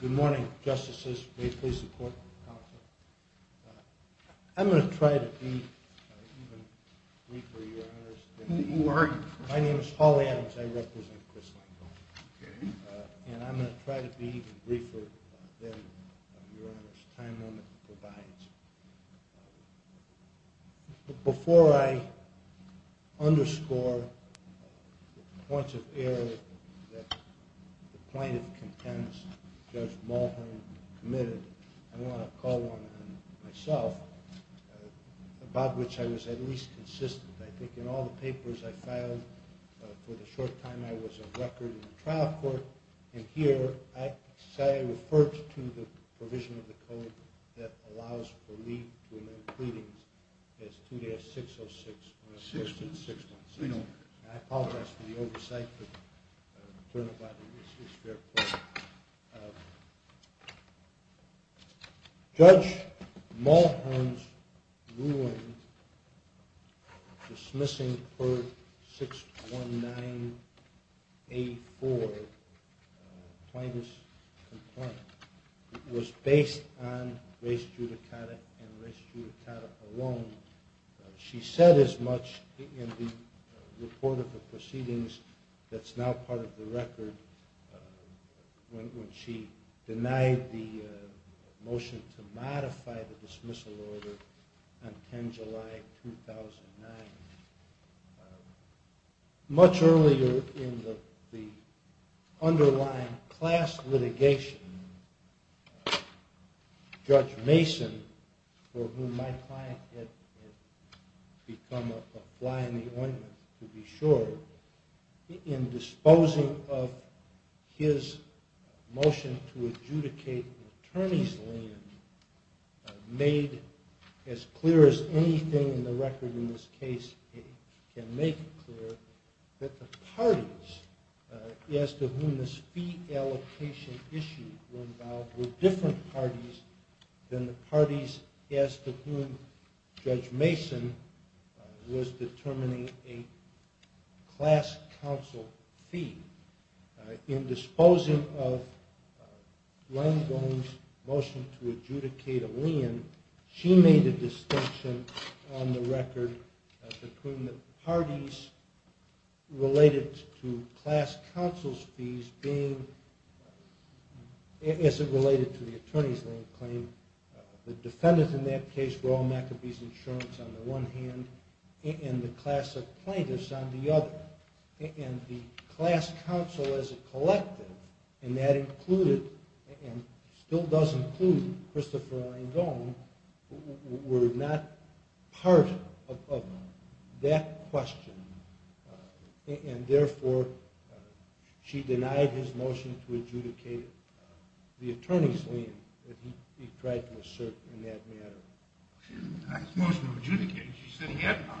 Good morning, Justices. May it please the Court, counsel. I'm going to try to be even Before I underscore the points of error that the plaintiff contends Judge Mulhern committed, I want to call one on myself, about which I was at least consistent. I think in all the papers I filed, for the short time I was a record in the trial court, and here I refer to the provision of the code that allows for leave to amend pleadings as 2-606-616. I apologize for the oversight, but the attorney body is their court. Judge Mulhern's ruling dismissing Perk 619A4, plaintiff's complaint, was based on res judicata and res judicata alone. She said as much in the report of the proceedings that's now part of the record when she denied the motion to modify the dismissal order on 10 July 2009. Much earlier in the underlying class litigation, Judge Mason, for whom my client had become a fly in the ointment to be sure, in disposing of his motion to adjudicate an attorney's land, made as clear as anything in the record in this case can make clear, that the parties as to whom this fee allocation issue involved were different parties than the parties as to whom Judge Mason was determining a class counsel fee. In disposing of Langone's motion to adjudicate a land, she made a distinction on the record between the parties related to class counsel's fees being, as it related to the attorney's land claim, the defendants in that case were all McAbee's insurance on the one hand, and the class of plaintiffs on the other. And the class counsel as a collective, and that included, and still does include, Christopher Langone, were not part of that question, and therefore she denied his motion to adjudicate the attorney's land, that he tried to assert in that matter. She didn't deny his motion to adjudicate it, she said he had none.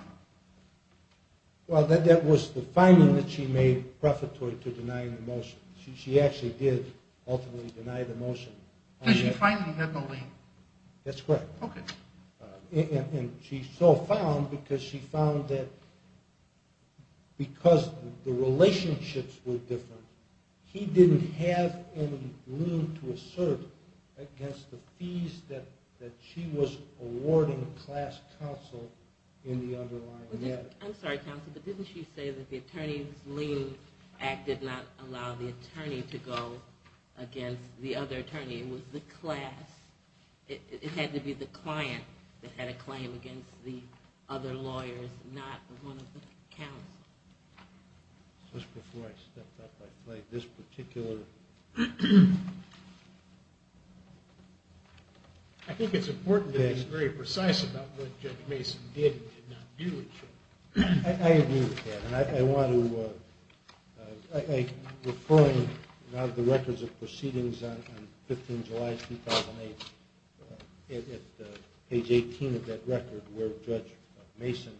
Well, that was the finding that she made prefatory to denying the motion. She actually did ultimately deny the motion. Did she find that he had no lien? That's correct. Okay. And she so found, because she found that because the relationships were different, he didn't have any lien to assert against the fees that she was awarding class counsel in the underlying matter. I'm sorry, counsel, but didn't she say that the Attorney's Lien Act did not allow the attorney to go against the other attorney? It was the class. It had to be the client that had a claim against the other lawyers, not one of the counsel. Just before I stepped up, I flagged this particular. I think it's important to be very precise about what Judge Mason did and did not do. I agree with that, and I want to, referring now to the records of proceedings on 15 July 2008, at page 18 of that record, where Judge Mason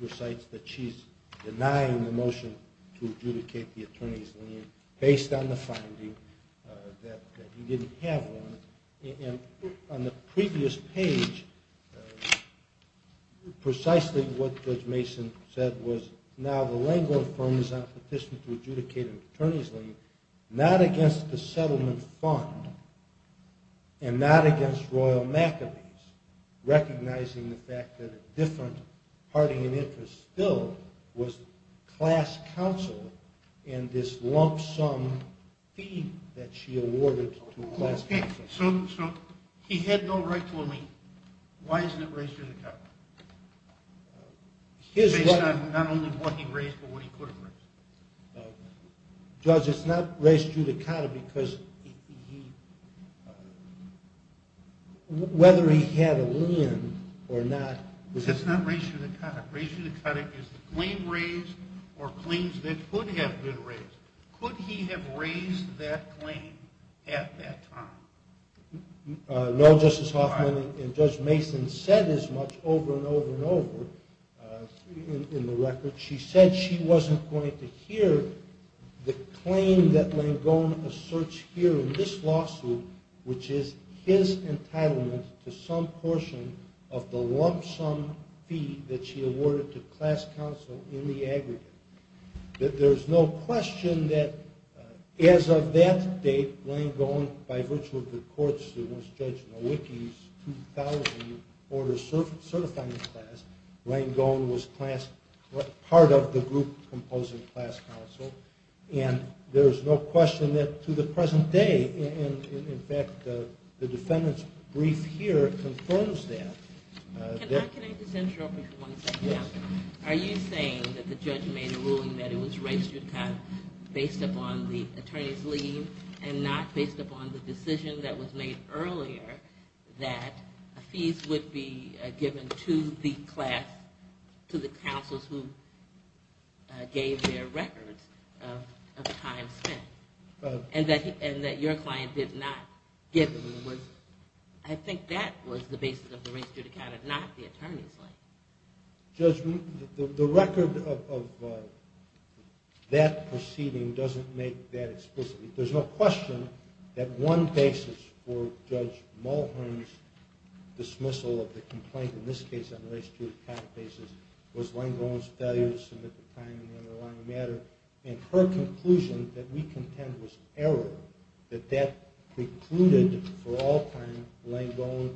recites that she's denying the motion to adjudicate the attorney's lien, based on the finding that he didn't have one. And on the previous page, precisely what Judge Mason said was, now the Lengler firm is on a petition to adjudicate an attorney's lien, not against the settlement fund, and not against Royal McAbee's, recognizing the fact that a different party in interest still was class counsel, and this lump sum fee that she awarded to class counsel. So he had no right to a lien. Why isn't it raised in the court? Based on not only what he raised, but what he could have raised. Judge, it's not raised judicata because whether he had a lien or not. It's not raised judicata. Raised judicata is the claim raised or claims that could have been raised. Could he have raised that claim at that time? No, Justice Hoffman, and Judge Mason said as much over and over and over in the record. She said she wasn't going to hear the claim that Langone asserts here in this lawsuit, which is his entitlement to some portion of the lump sum fee that she awarded to class counsel in the aggregate. There's no question that as of that date, Langone, by virtue of the courts, was Judge Nowicki's 2000 order of certifying class. Langone was part of the group composing class counsel. And there's no question that to the present day, in fact, the defendant's brief here confirms that. Can I just interrupt you for one second? Yes. Are you saying that the judge made a ruling that it was raised judicata based upon the attorney's lien and not based upon the decision that was made earlier that fees would be given to the class, to the counsels who gave their records of time spent, and that your client did not give them? I think that was the basis of the raised judicata, not the attorney's lien. Judge, the record of that proceeding doesn't make that explicit. There's no question that one basis for Judge Mulhern's dismissal of the complaint, in this case on the raised judicata basis, was Langone's failure to submit the claim in the underlying matter. And her conclusion that we contend was error, that that precluded for all time Langone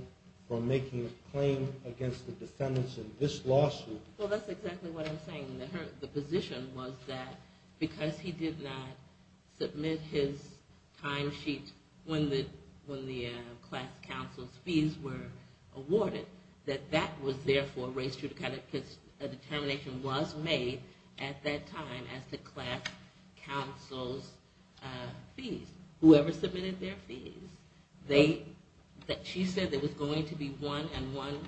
from making a claim against the defendants in this lawsuit. Well, that's exactly what I'm saying. The position was that because he did not submit his timesheet when the class counsel's fees were awarded, that that was therefore raised judicata because a determination was made at that time as to class counsel's fees, whoever submitted their fees. She said there was going to be one and one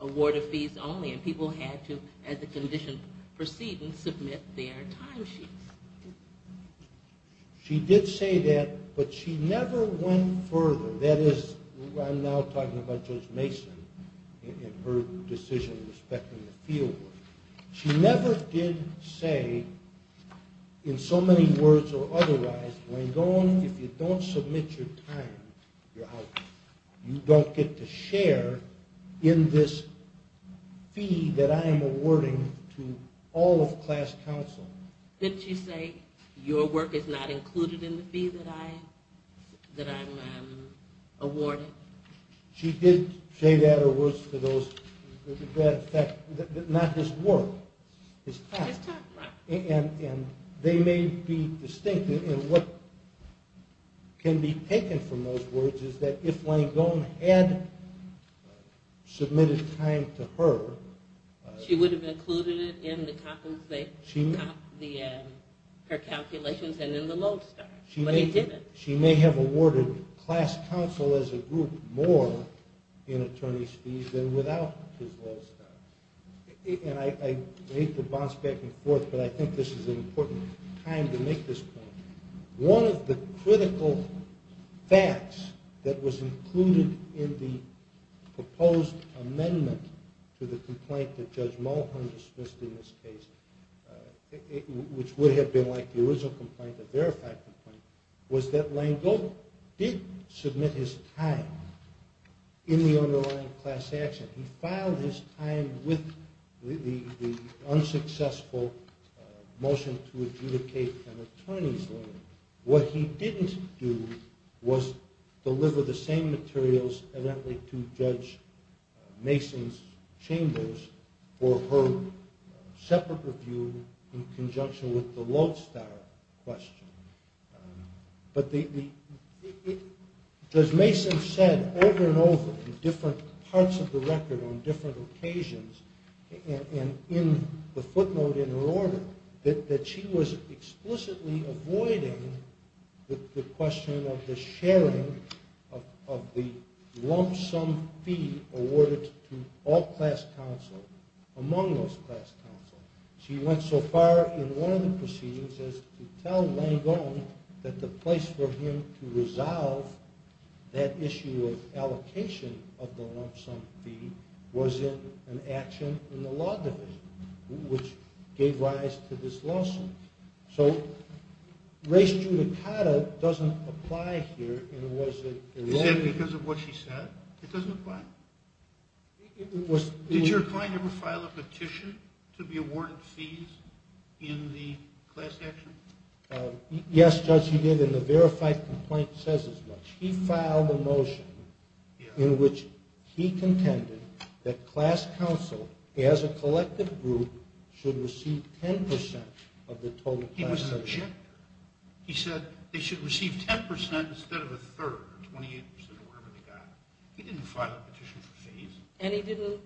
award of fees only, and people had to, as a condition proceeding, submit their timesheets. She did say that, but she never went further. That is, I'm now talking about Judge Mason and her decision respecting the fieldwork. She never did say, in so many words or otherwise, Langone, if you don't submit your time, you're out. You don't get to share in this fee that I am awarding to all of class counsel. Didn't she say, your work is not included in the fee that I'm awarding? She did say that, or was, to that effect. Not his work, his time. His time, right. And they may be distinct. And what can be taken from those words is that if Langone had submitted time to her... She would have included it in her calculations and in the lodestar, but he didn't. She may have awarded class counsel as a group more in attorney's fees than without his lodestar. And I hate to bounce back and forth, but I think this is an important time to make this point. One of the critical facts that was included in the proposed amendment to the complaint that Judge Mulholland dismissed in this case, which would have been like the original complaint, the verified complaint, was that Langone did submit his time in the underlying class action. He filed his time with the unsuccessful motion to adjudicate an attorney's lawyer. What he didn't do was deliver the same materials evidently to Judge Mason's chambers for her separate review in conjunction with the lodestar question. But Judge Mason said over and over in different parts of the record on different occasions, and in the footnote in her order, that she was explicitly avoiding the question of the sharing of the lump sum fee awarded to all class counsel among those class counsel. She went so far in one of the proceedings as to tell Langone that the place for him to resolve that issue of allocation of the lump sum fee was in an action in the law division, which gave rise to this lawsuit. So res judicata doesn't apply here, and was it eroded? Because of what she said, it doesn't apply. Did your client ever file a petition to be awarded fees in the class action? Yes, Judge, he did, and the verified complaint says as much. He filed a motion in which he contended that class counsel, as a collective group, should receive 10% of the total class action. He said they should receive 10% instead of a third, 28% or whatever they got. He didn't file a petition for fees. And he didn't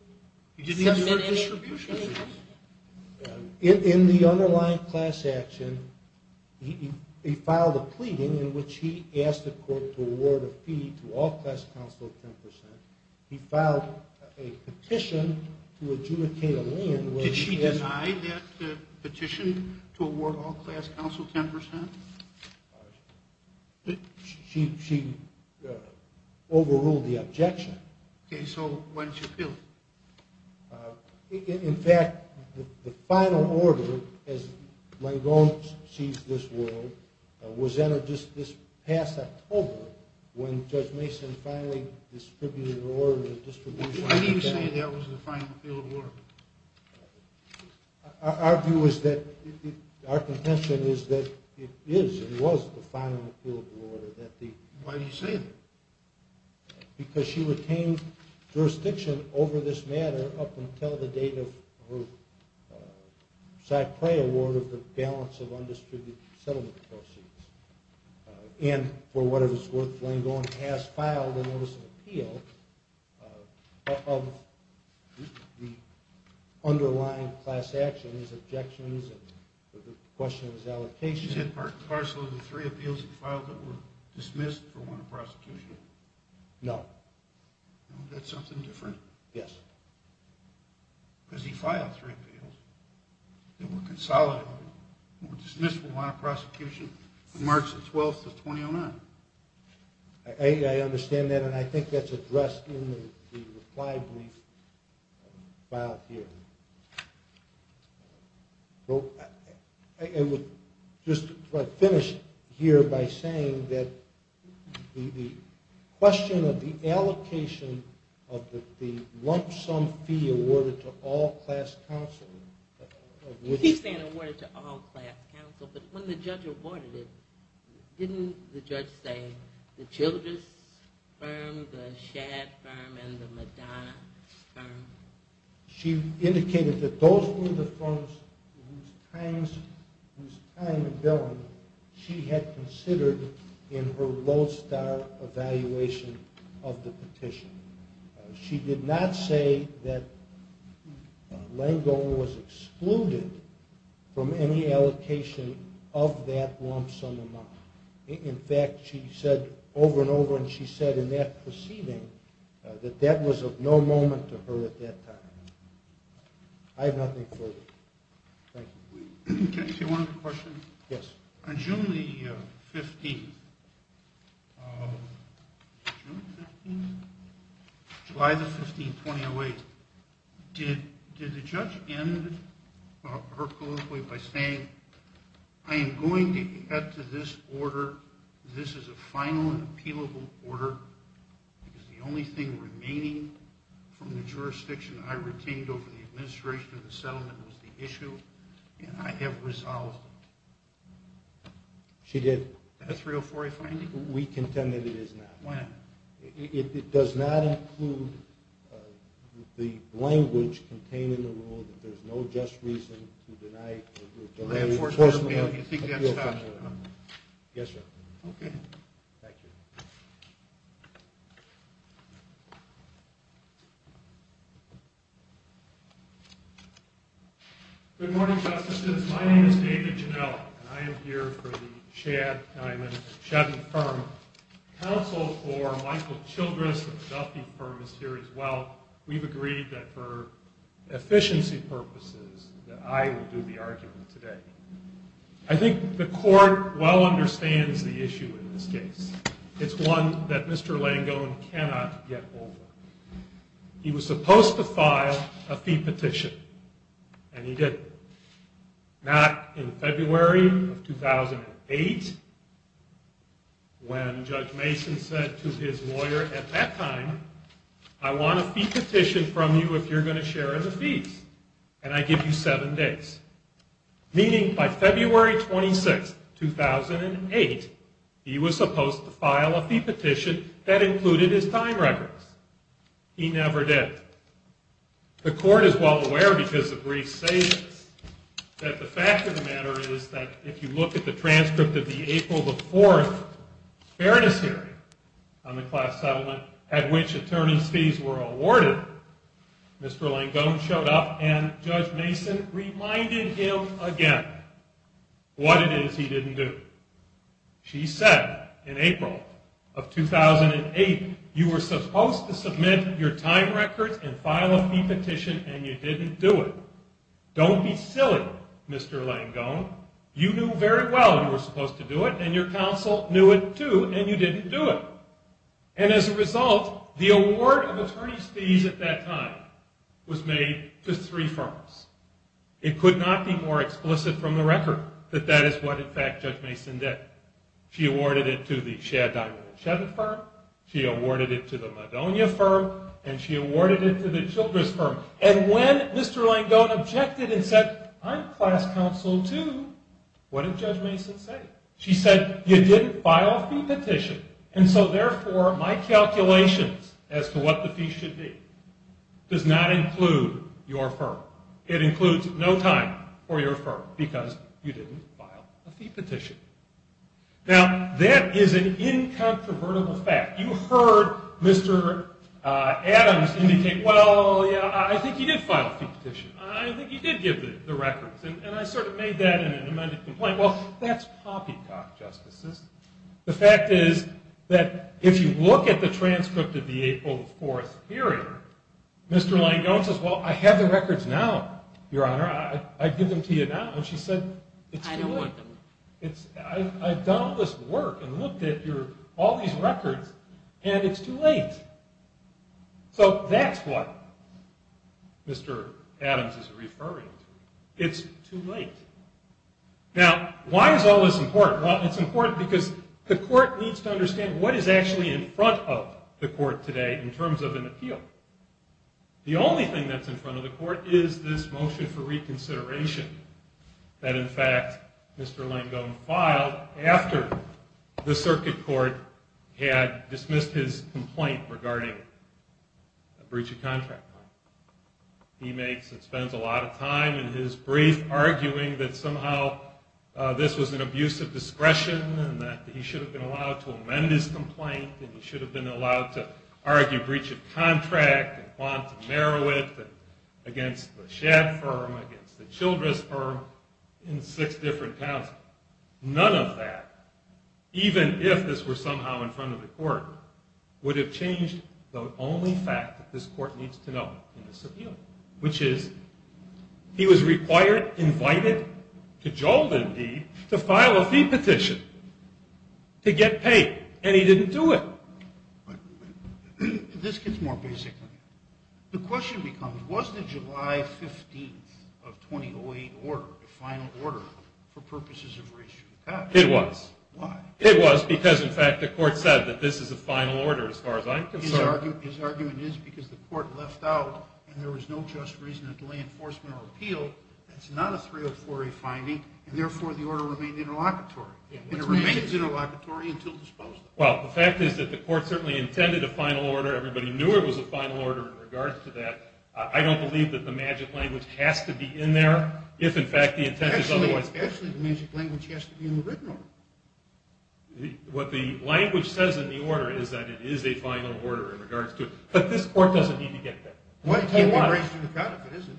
submit any? In the underlying class action, he filed a pleading in which he asked the court to award a fee to all class counsel of 10%. He filed a petition to adjudicate a lien. Did she deny that petition to award all class counsel 10%? She overruled the objection. Okay, so why didn't she appeal it? In fact, the final order, as Langone sees this world, was entered just this past October when Judge Mason finally distributed the order. Why do you say that was the final appeal of the order? Our view is that, our contention is that it is and was the final appeal of the order. Why do you say that? Because she retained jurisdiction over this matter up until the date of her Cy Prey award of the balance of undistributed settlement proceeds. And for whatever it was worth, Langone has filed a notice of appeal of the underlying class actions, objections, and the question of his allocation. She's had parcel of the three appeals that were dismissed for want of prosecution? No. That's something different? Yes. Because he filed three appeals that were consolidated or dismissed for want of prosecution from March the 12th of 2009. I understand that, and I think that's addressed in the reply brief filed here. I would just finish here by saying that the question of the allocation of the lump sum fee awarded to all class counsel. He's saying awarded to all class counsel, but when the judge awarded it, didn't the judge say the Childress firm, the Shad firm, and the Madonna firm? She indicated that those were the firms whose time and billing she had considered in her lodestar evaluation of the petition. She did not say that Langone was excluded from any allocation of that lump sum amount. In fact, she said over and over, and she said in that proceeding, that that was of no moment to her at that time. I have nothing further. Thank you. Can I ask you one other question? Yes. On June the 15th, July the 15th, 2008, did the judge end her colloquy by saying, I am going to get to this order. This is a final and appealable order because the only thing remaining from the jurisdiction I retained over the administration of the settlement was the issue, and I have resolved it. She did. Is that a 304A finding? We contend that it is not. Why not? It does not include the language contained in the rule that there is no just reason to deny or delay enforcement of an appeal from the government. Yes, sir. Okay. Thank you. Good morning, Justices. My name is David Ginelli, and I am here for the Shad Diamond Shaddy firm. Counsel for Michael Childress of the Duffy firm is here as well. We've agreed that for efficiency purposes that I will do the argument today. I think the court well understands the issue in this case. It's one that Mr. Langone cannot get over. He was supposed to file a fee petition, and he didn't. Not in February of 2008 when Judge Mason said to his lawyer at that time, I want a fee petition from you if you're going to share in the fees, and I give you seven days. Meaning by February 26, 2008, he was supposed to file a fee petition that included his time records. He never did. The court is well aware because the brief states that the fact of the matter is that if you look at the transcript of the April 4th fairness hearing on the class settlement at which attorney's fees were awarded, Mr. Langone showed up, and Judge Mason reminded him again what it is he didn't do. She said in April of 2008, you were supposed to submit your time records and file a fee petition, and you didn't do it. Don't be silly, Mr. Langone. You knew very well you were supposed to do it, and your counsel knew it too, and you didn't do it. And as a result, the award of attorney's fees at that time was made to three firms. It could not be more explicit from the record that that is what, in fact, Judge Mason did. She awarded it to the Shad Diamond and Shadid firm. She awarded it to the Madonia firm, and she awarded it to the Childress firm. And when Mr. Langone objected and said, I'm class counsel too, what did Judge Mason say? She said, you didn't file a fee petition, and so therefore, my calculations as to what the fee should be does not include your firm. It includes no time for your firm because you didn't file a fee petition. Now, that is an incontrovertible fact. You heard Mr. Adams indicate, well, yeah, I think he did file a fee petition. I think he did give the records, and I sort of made that an amended complaint. Well, that's poppycock, Justices. The fact is that if you look at the transcript of the April 4th hearing, Mr. Langone says, well, I have the records now, Your Honor. I give them to you now. And she said, it's too late. I don't want them. I've done all this work and looked at all these records, and it's too late. So that's what Mr. Adams is referring to. It's too late. Now, why is all this important? Well, it's important because the court needs to understand what is actually in front of the court today in terms of an appeal. The only thing that's in front of the court is this motion for reconsideration that, in fact, Mr. Langone filed after the circuit court had dismissed his complaint regarding a breach of contract. He makes and spends a lot of time in his brief arguing that somehow this was an abuse of discretion and that he should have been allowed to amend his complaint and he should have been allowed to argue breach of contract and want to narrow it against the Shad firm, against the Childress firm in six different towns. None of that, even if this were somehow in front of the court, would have changed the only fact that this court needs to know in this appeal, which is he was required, invited, cajoled indeed, to file a fee petition to get paid, and he didn't do it. This gets more basic. The question becomes, was the July 15th of 2008 order, the final order, for purposes of reissue of cash? It was. Why? It was because, in fact, the court said that this is a final order as far as I'm concerned. His argument is because the court left out and there was no just reason to delay enforcement or appeal. That's not a 304A finding, and therefore the order remained interlocutory. It remained interlocutory until disposed of. Well, the fact is that the court certainly intended a final order. Everybody knew it was a final order in regards to that. I don't believe that the magic language has to be in there if, in fact, the intent is otherwise. Actually, the magic language has to be in the written order. What the language says in the order is that it is a final order in regards to it, but this court doesn't need to get there. Well, it can't be raised to the count if it isn't.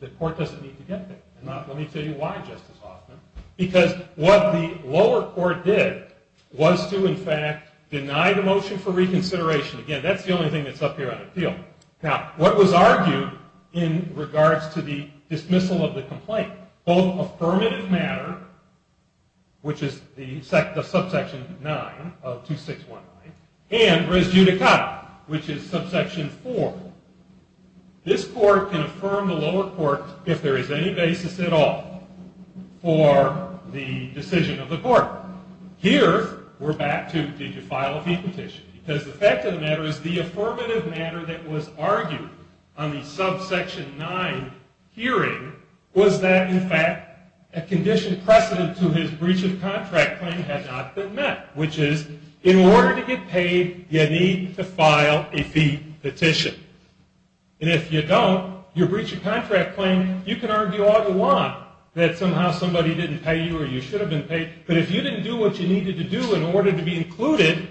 The court doesn't need to get there. Now, let me tell you why, Justice Hoffman. Because what the lower court did was to, in fact, deny the motion for reconsideration. Again, that's the only thing that's up here on appeal. Now, what was argued in regards to the dismissal of the complaint? Both affirmative matter, which is the subsection 9 of 2619, and res judicata, which is subsection 4. This court can affirm the lower court, if there is any basis at all, for the decision of the court. Here, we're back to, did you file a fee petition? Because the fact of the matter is the affirmative matter that was argued on the subsection 9 hearing was that, in fact, a condition precedent to his breach of contract claim had not been met, which is, in order to get paid, you need to file a fee petition. And if you don't, your breach of contract claim, you can argue all you want that somehow somebody didn't pay you or you should have been paid, but if you didn't do what you needed to do in order to be included,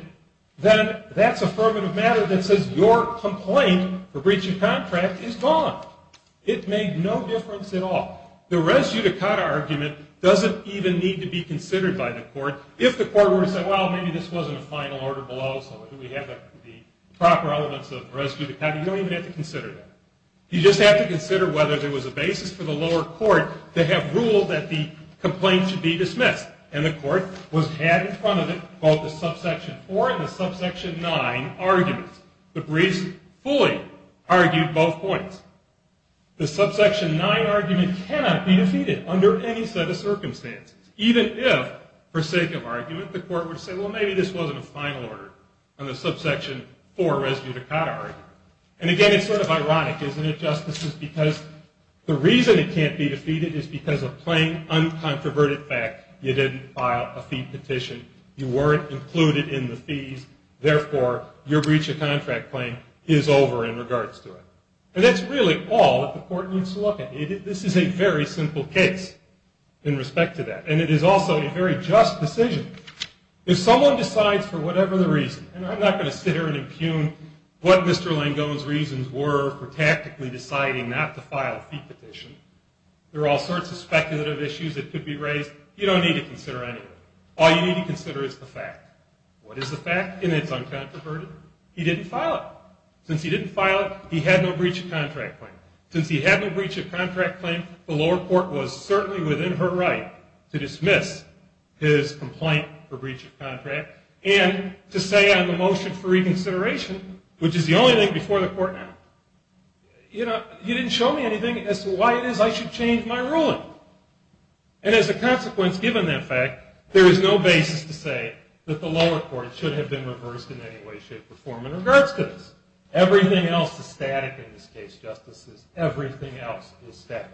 then that's affirmative matter that says your complaint for breach of contract is gone. It made no difference at all. The res judicata argument doesn't even need to be considered by the court. If the court were to say, well, maybe this wasn't a final order below, so we have the proper elements of res judicata, you don't even have to consider that. You just have to consider whether there was a basis for the lower court to have ruled that the complaint should be dismissed, and the court was had in front of it both the subsection 4 and the subsection 9 arguments. The breach fully argued both points. The subsection 9 argument cannot be defeated under any set of circumstances, even if, for sake of argument, the court were to say, well, maybe this wasn't a final order on the subsection 4 res judicata argument. And, again, it's sort of ironic, isn't it, justices, because the reason it can't be defeated is because of plain, uncontroverted fact. You didn't file a fee petition. You weren't included in the fees. Therefore, your breach of contract claim is over in regards to it. And that's really all that the court needs to look at. This is a very simple case in respect to that, and it is also a very just decision. If someone decides for whatever the reason, and I'm not going to sit here and impugn what Mr. Langone's reasons were for tactically deciding not to file a fee petition. There are all sorts of speculative issues that could be raised. You don't need to consider any of it. All you need to consider is the fact. What is the fact? It's uncontroverted. He didn't file it. Since he didn't file it, he had no breach of contract claim. Since he had no breach of contract claim, the lower court was certainly within her right to dismiss his complaint for breach of contract and to say on the motion for reconsideration, which is the only thing before the court now, you know, you didn't show me anything as to why it is I should change my ruling. And as a consequence, given that fact, there is no basis to say that the lower court should have been reversed in any way, shape, or form in regards to this. Everything else is static in this case, justices. Everything else is static.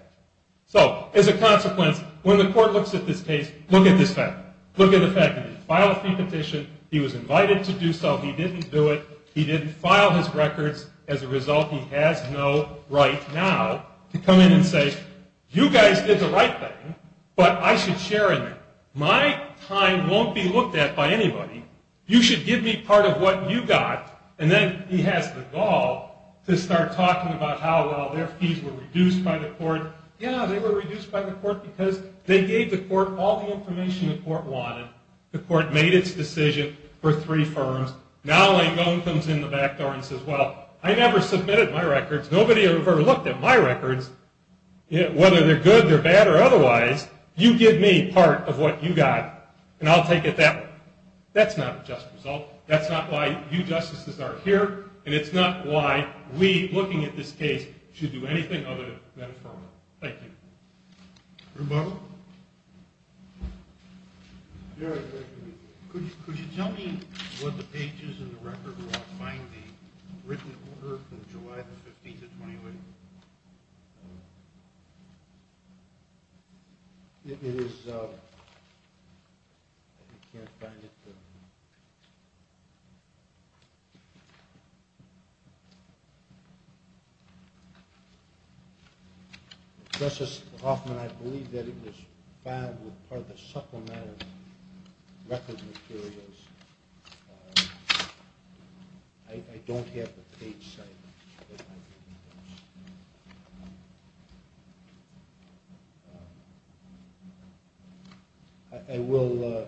So as a consequence, when the court looks at this case, look at this fact. Look at the fact. He didn't file a fee petition. He was invited to do so. He didn't do it. He didn't file his records. As a result, he has no right now to come in and say, you guys did the right thing, but I should share in that. My time won't be looked at by anybody. You should give me part of what you got. And then he has the gall to start talking about how well their fees were reduced by the court. Yeah, they were reduced by the court because they gave the court all the information the court wanted. The court made its decision for three firms. Now Langone comes in the back door and says, well, I never submitted my records. Nobody ever looked at my records, whether they're good, they're bad, or otherwise. You give me part of what you got, and I'll take it that way. That's not a just result. That's not why you justices are here. And it's not why we, looking at this case, should do anything other than affirm it. Thank you. Reuben? Could you tell me what the pages in the record were on finding written order from July the 15th to 28th? It is. I can't find it. I'm sorry. Justice Hoffman, I believe that it was found with part of the supplement of record materials. I don't have the page set. I will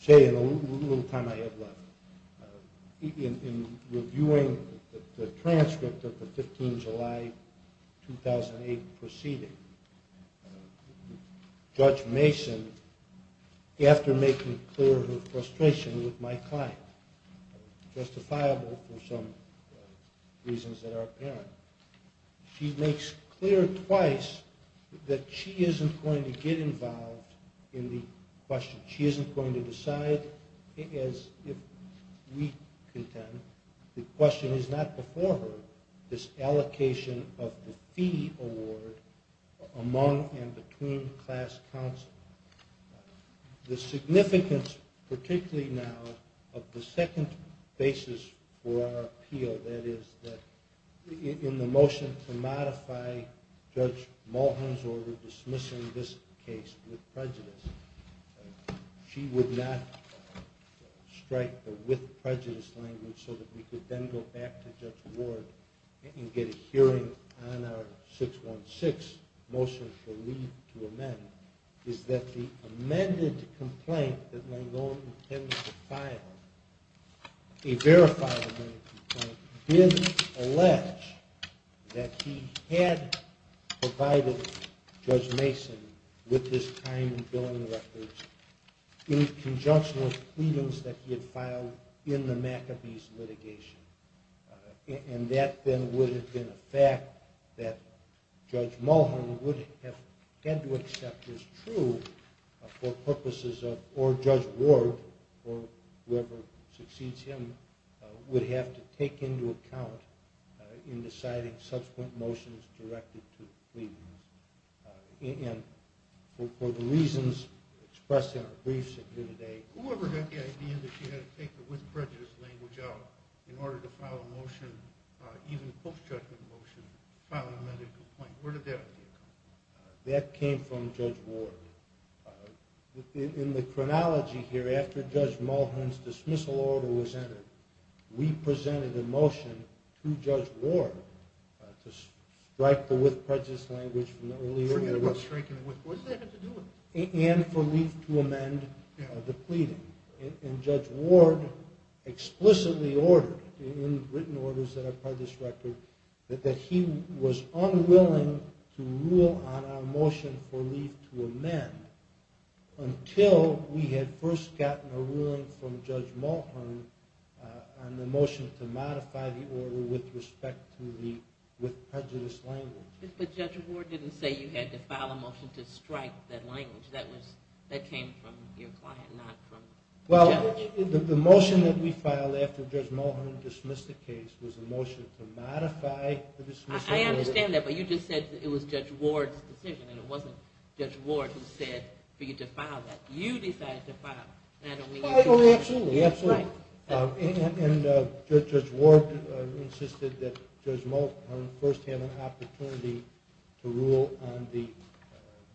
say in a little time I have left, in reviewing the transcript of the 15th of July 2008 proceeding, Judge Mason, after making clear her frustration with my client, justifiable for some reasons that are apparent, she makes clear twice that she isn't going to get involved in the question. She isn't going to decide as if we contend. The question is not before her, this allocation of the fee award among and between class counsel. The significance, particularly now, of the second basis for our appeal, that is, in the motion to modify Judge Mulholland's order dismissing this case with prejudice, she would not strike the with prejudice language so that we could then go back to Judge Ward and get a hearing on our 616 motion for leave to amend, is that the amended complaint that Langone intended to file, a verified amended complaint, did allege that he had provided Judge Mason with this time and billing records in conjunction with pleadings that he had filed in the McAbee's litigation. And that then would have been a fact that Judge Mulholland would have had to accept as true for purposes of, or Judge Ward, or whoever succeeds him, would have to take into account in deciding subsequent motions directed to pleadings. And for the reasons expressed in our briefs here today. Whoever had the idea that she had to take the with prejudice language out in order to file a motion, even post-judgment motion, to file an amended complaint, where did that idea come from? That came from Judge Ward. In the chronology here, after Judge Mulholland's dismissal order was entered, we presented a motion to Judge Ward to strike the with prejudice language from the early years. What does that have to do with it? And for leave to amend the pleading. And Judge Ward explicitly ordered, in written orders that are part of this record, that he was unwilling to rule on our motion for leave to amend until we had first gotten a ruling from Judge Mulholland on the motion to modify the order with respect to the with prejudice language. But Judge Ward didn't say you had to file a motion to strike that language. That came from your client, not from the judge. Well, the motion that we filed after Judge Mulholland dismissed the case was a motion to modify the dismissal order. I understand that, but you just said it was Judge Ward's decision and it wasn't Judge Ward who said for you to file that. You decided to file. Oh, absolutely, absolutely. And Judge Ward insisted that Judge Mulholland first have an opportunity to rule on the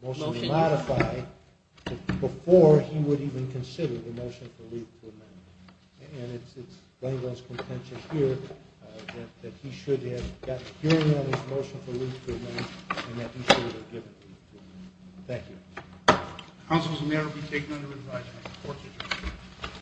motion to modify before he would even consider the motion for leave to amend. And it's Langland's contention here that he should have got a hearing on his motion for leave to amend and that he should have given leave to amend. Thank you. The counsel will now be taken under advisement.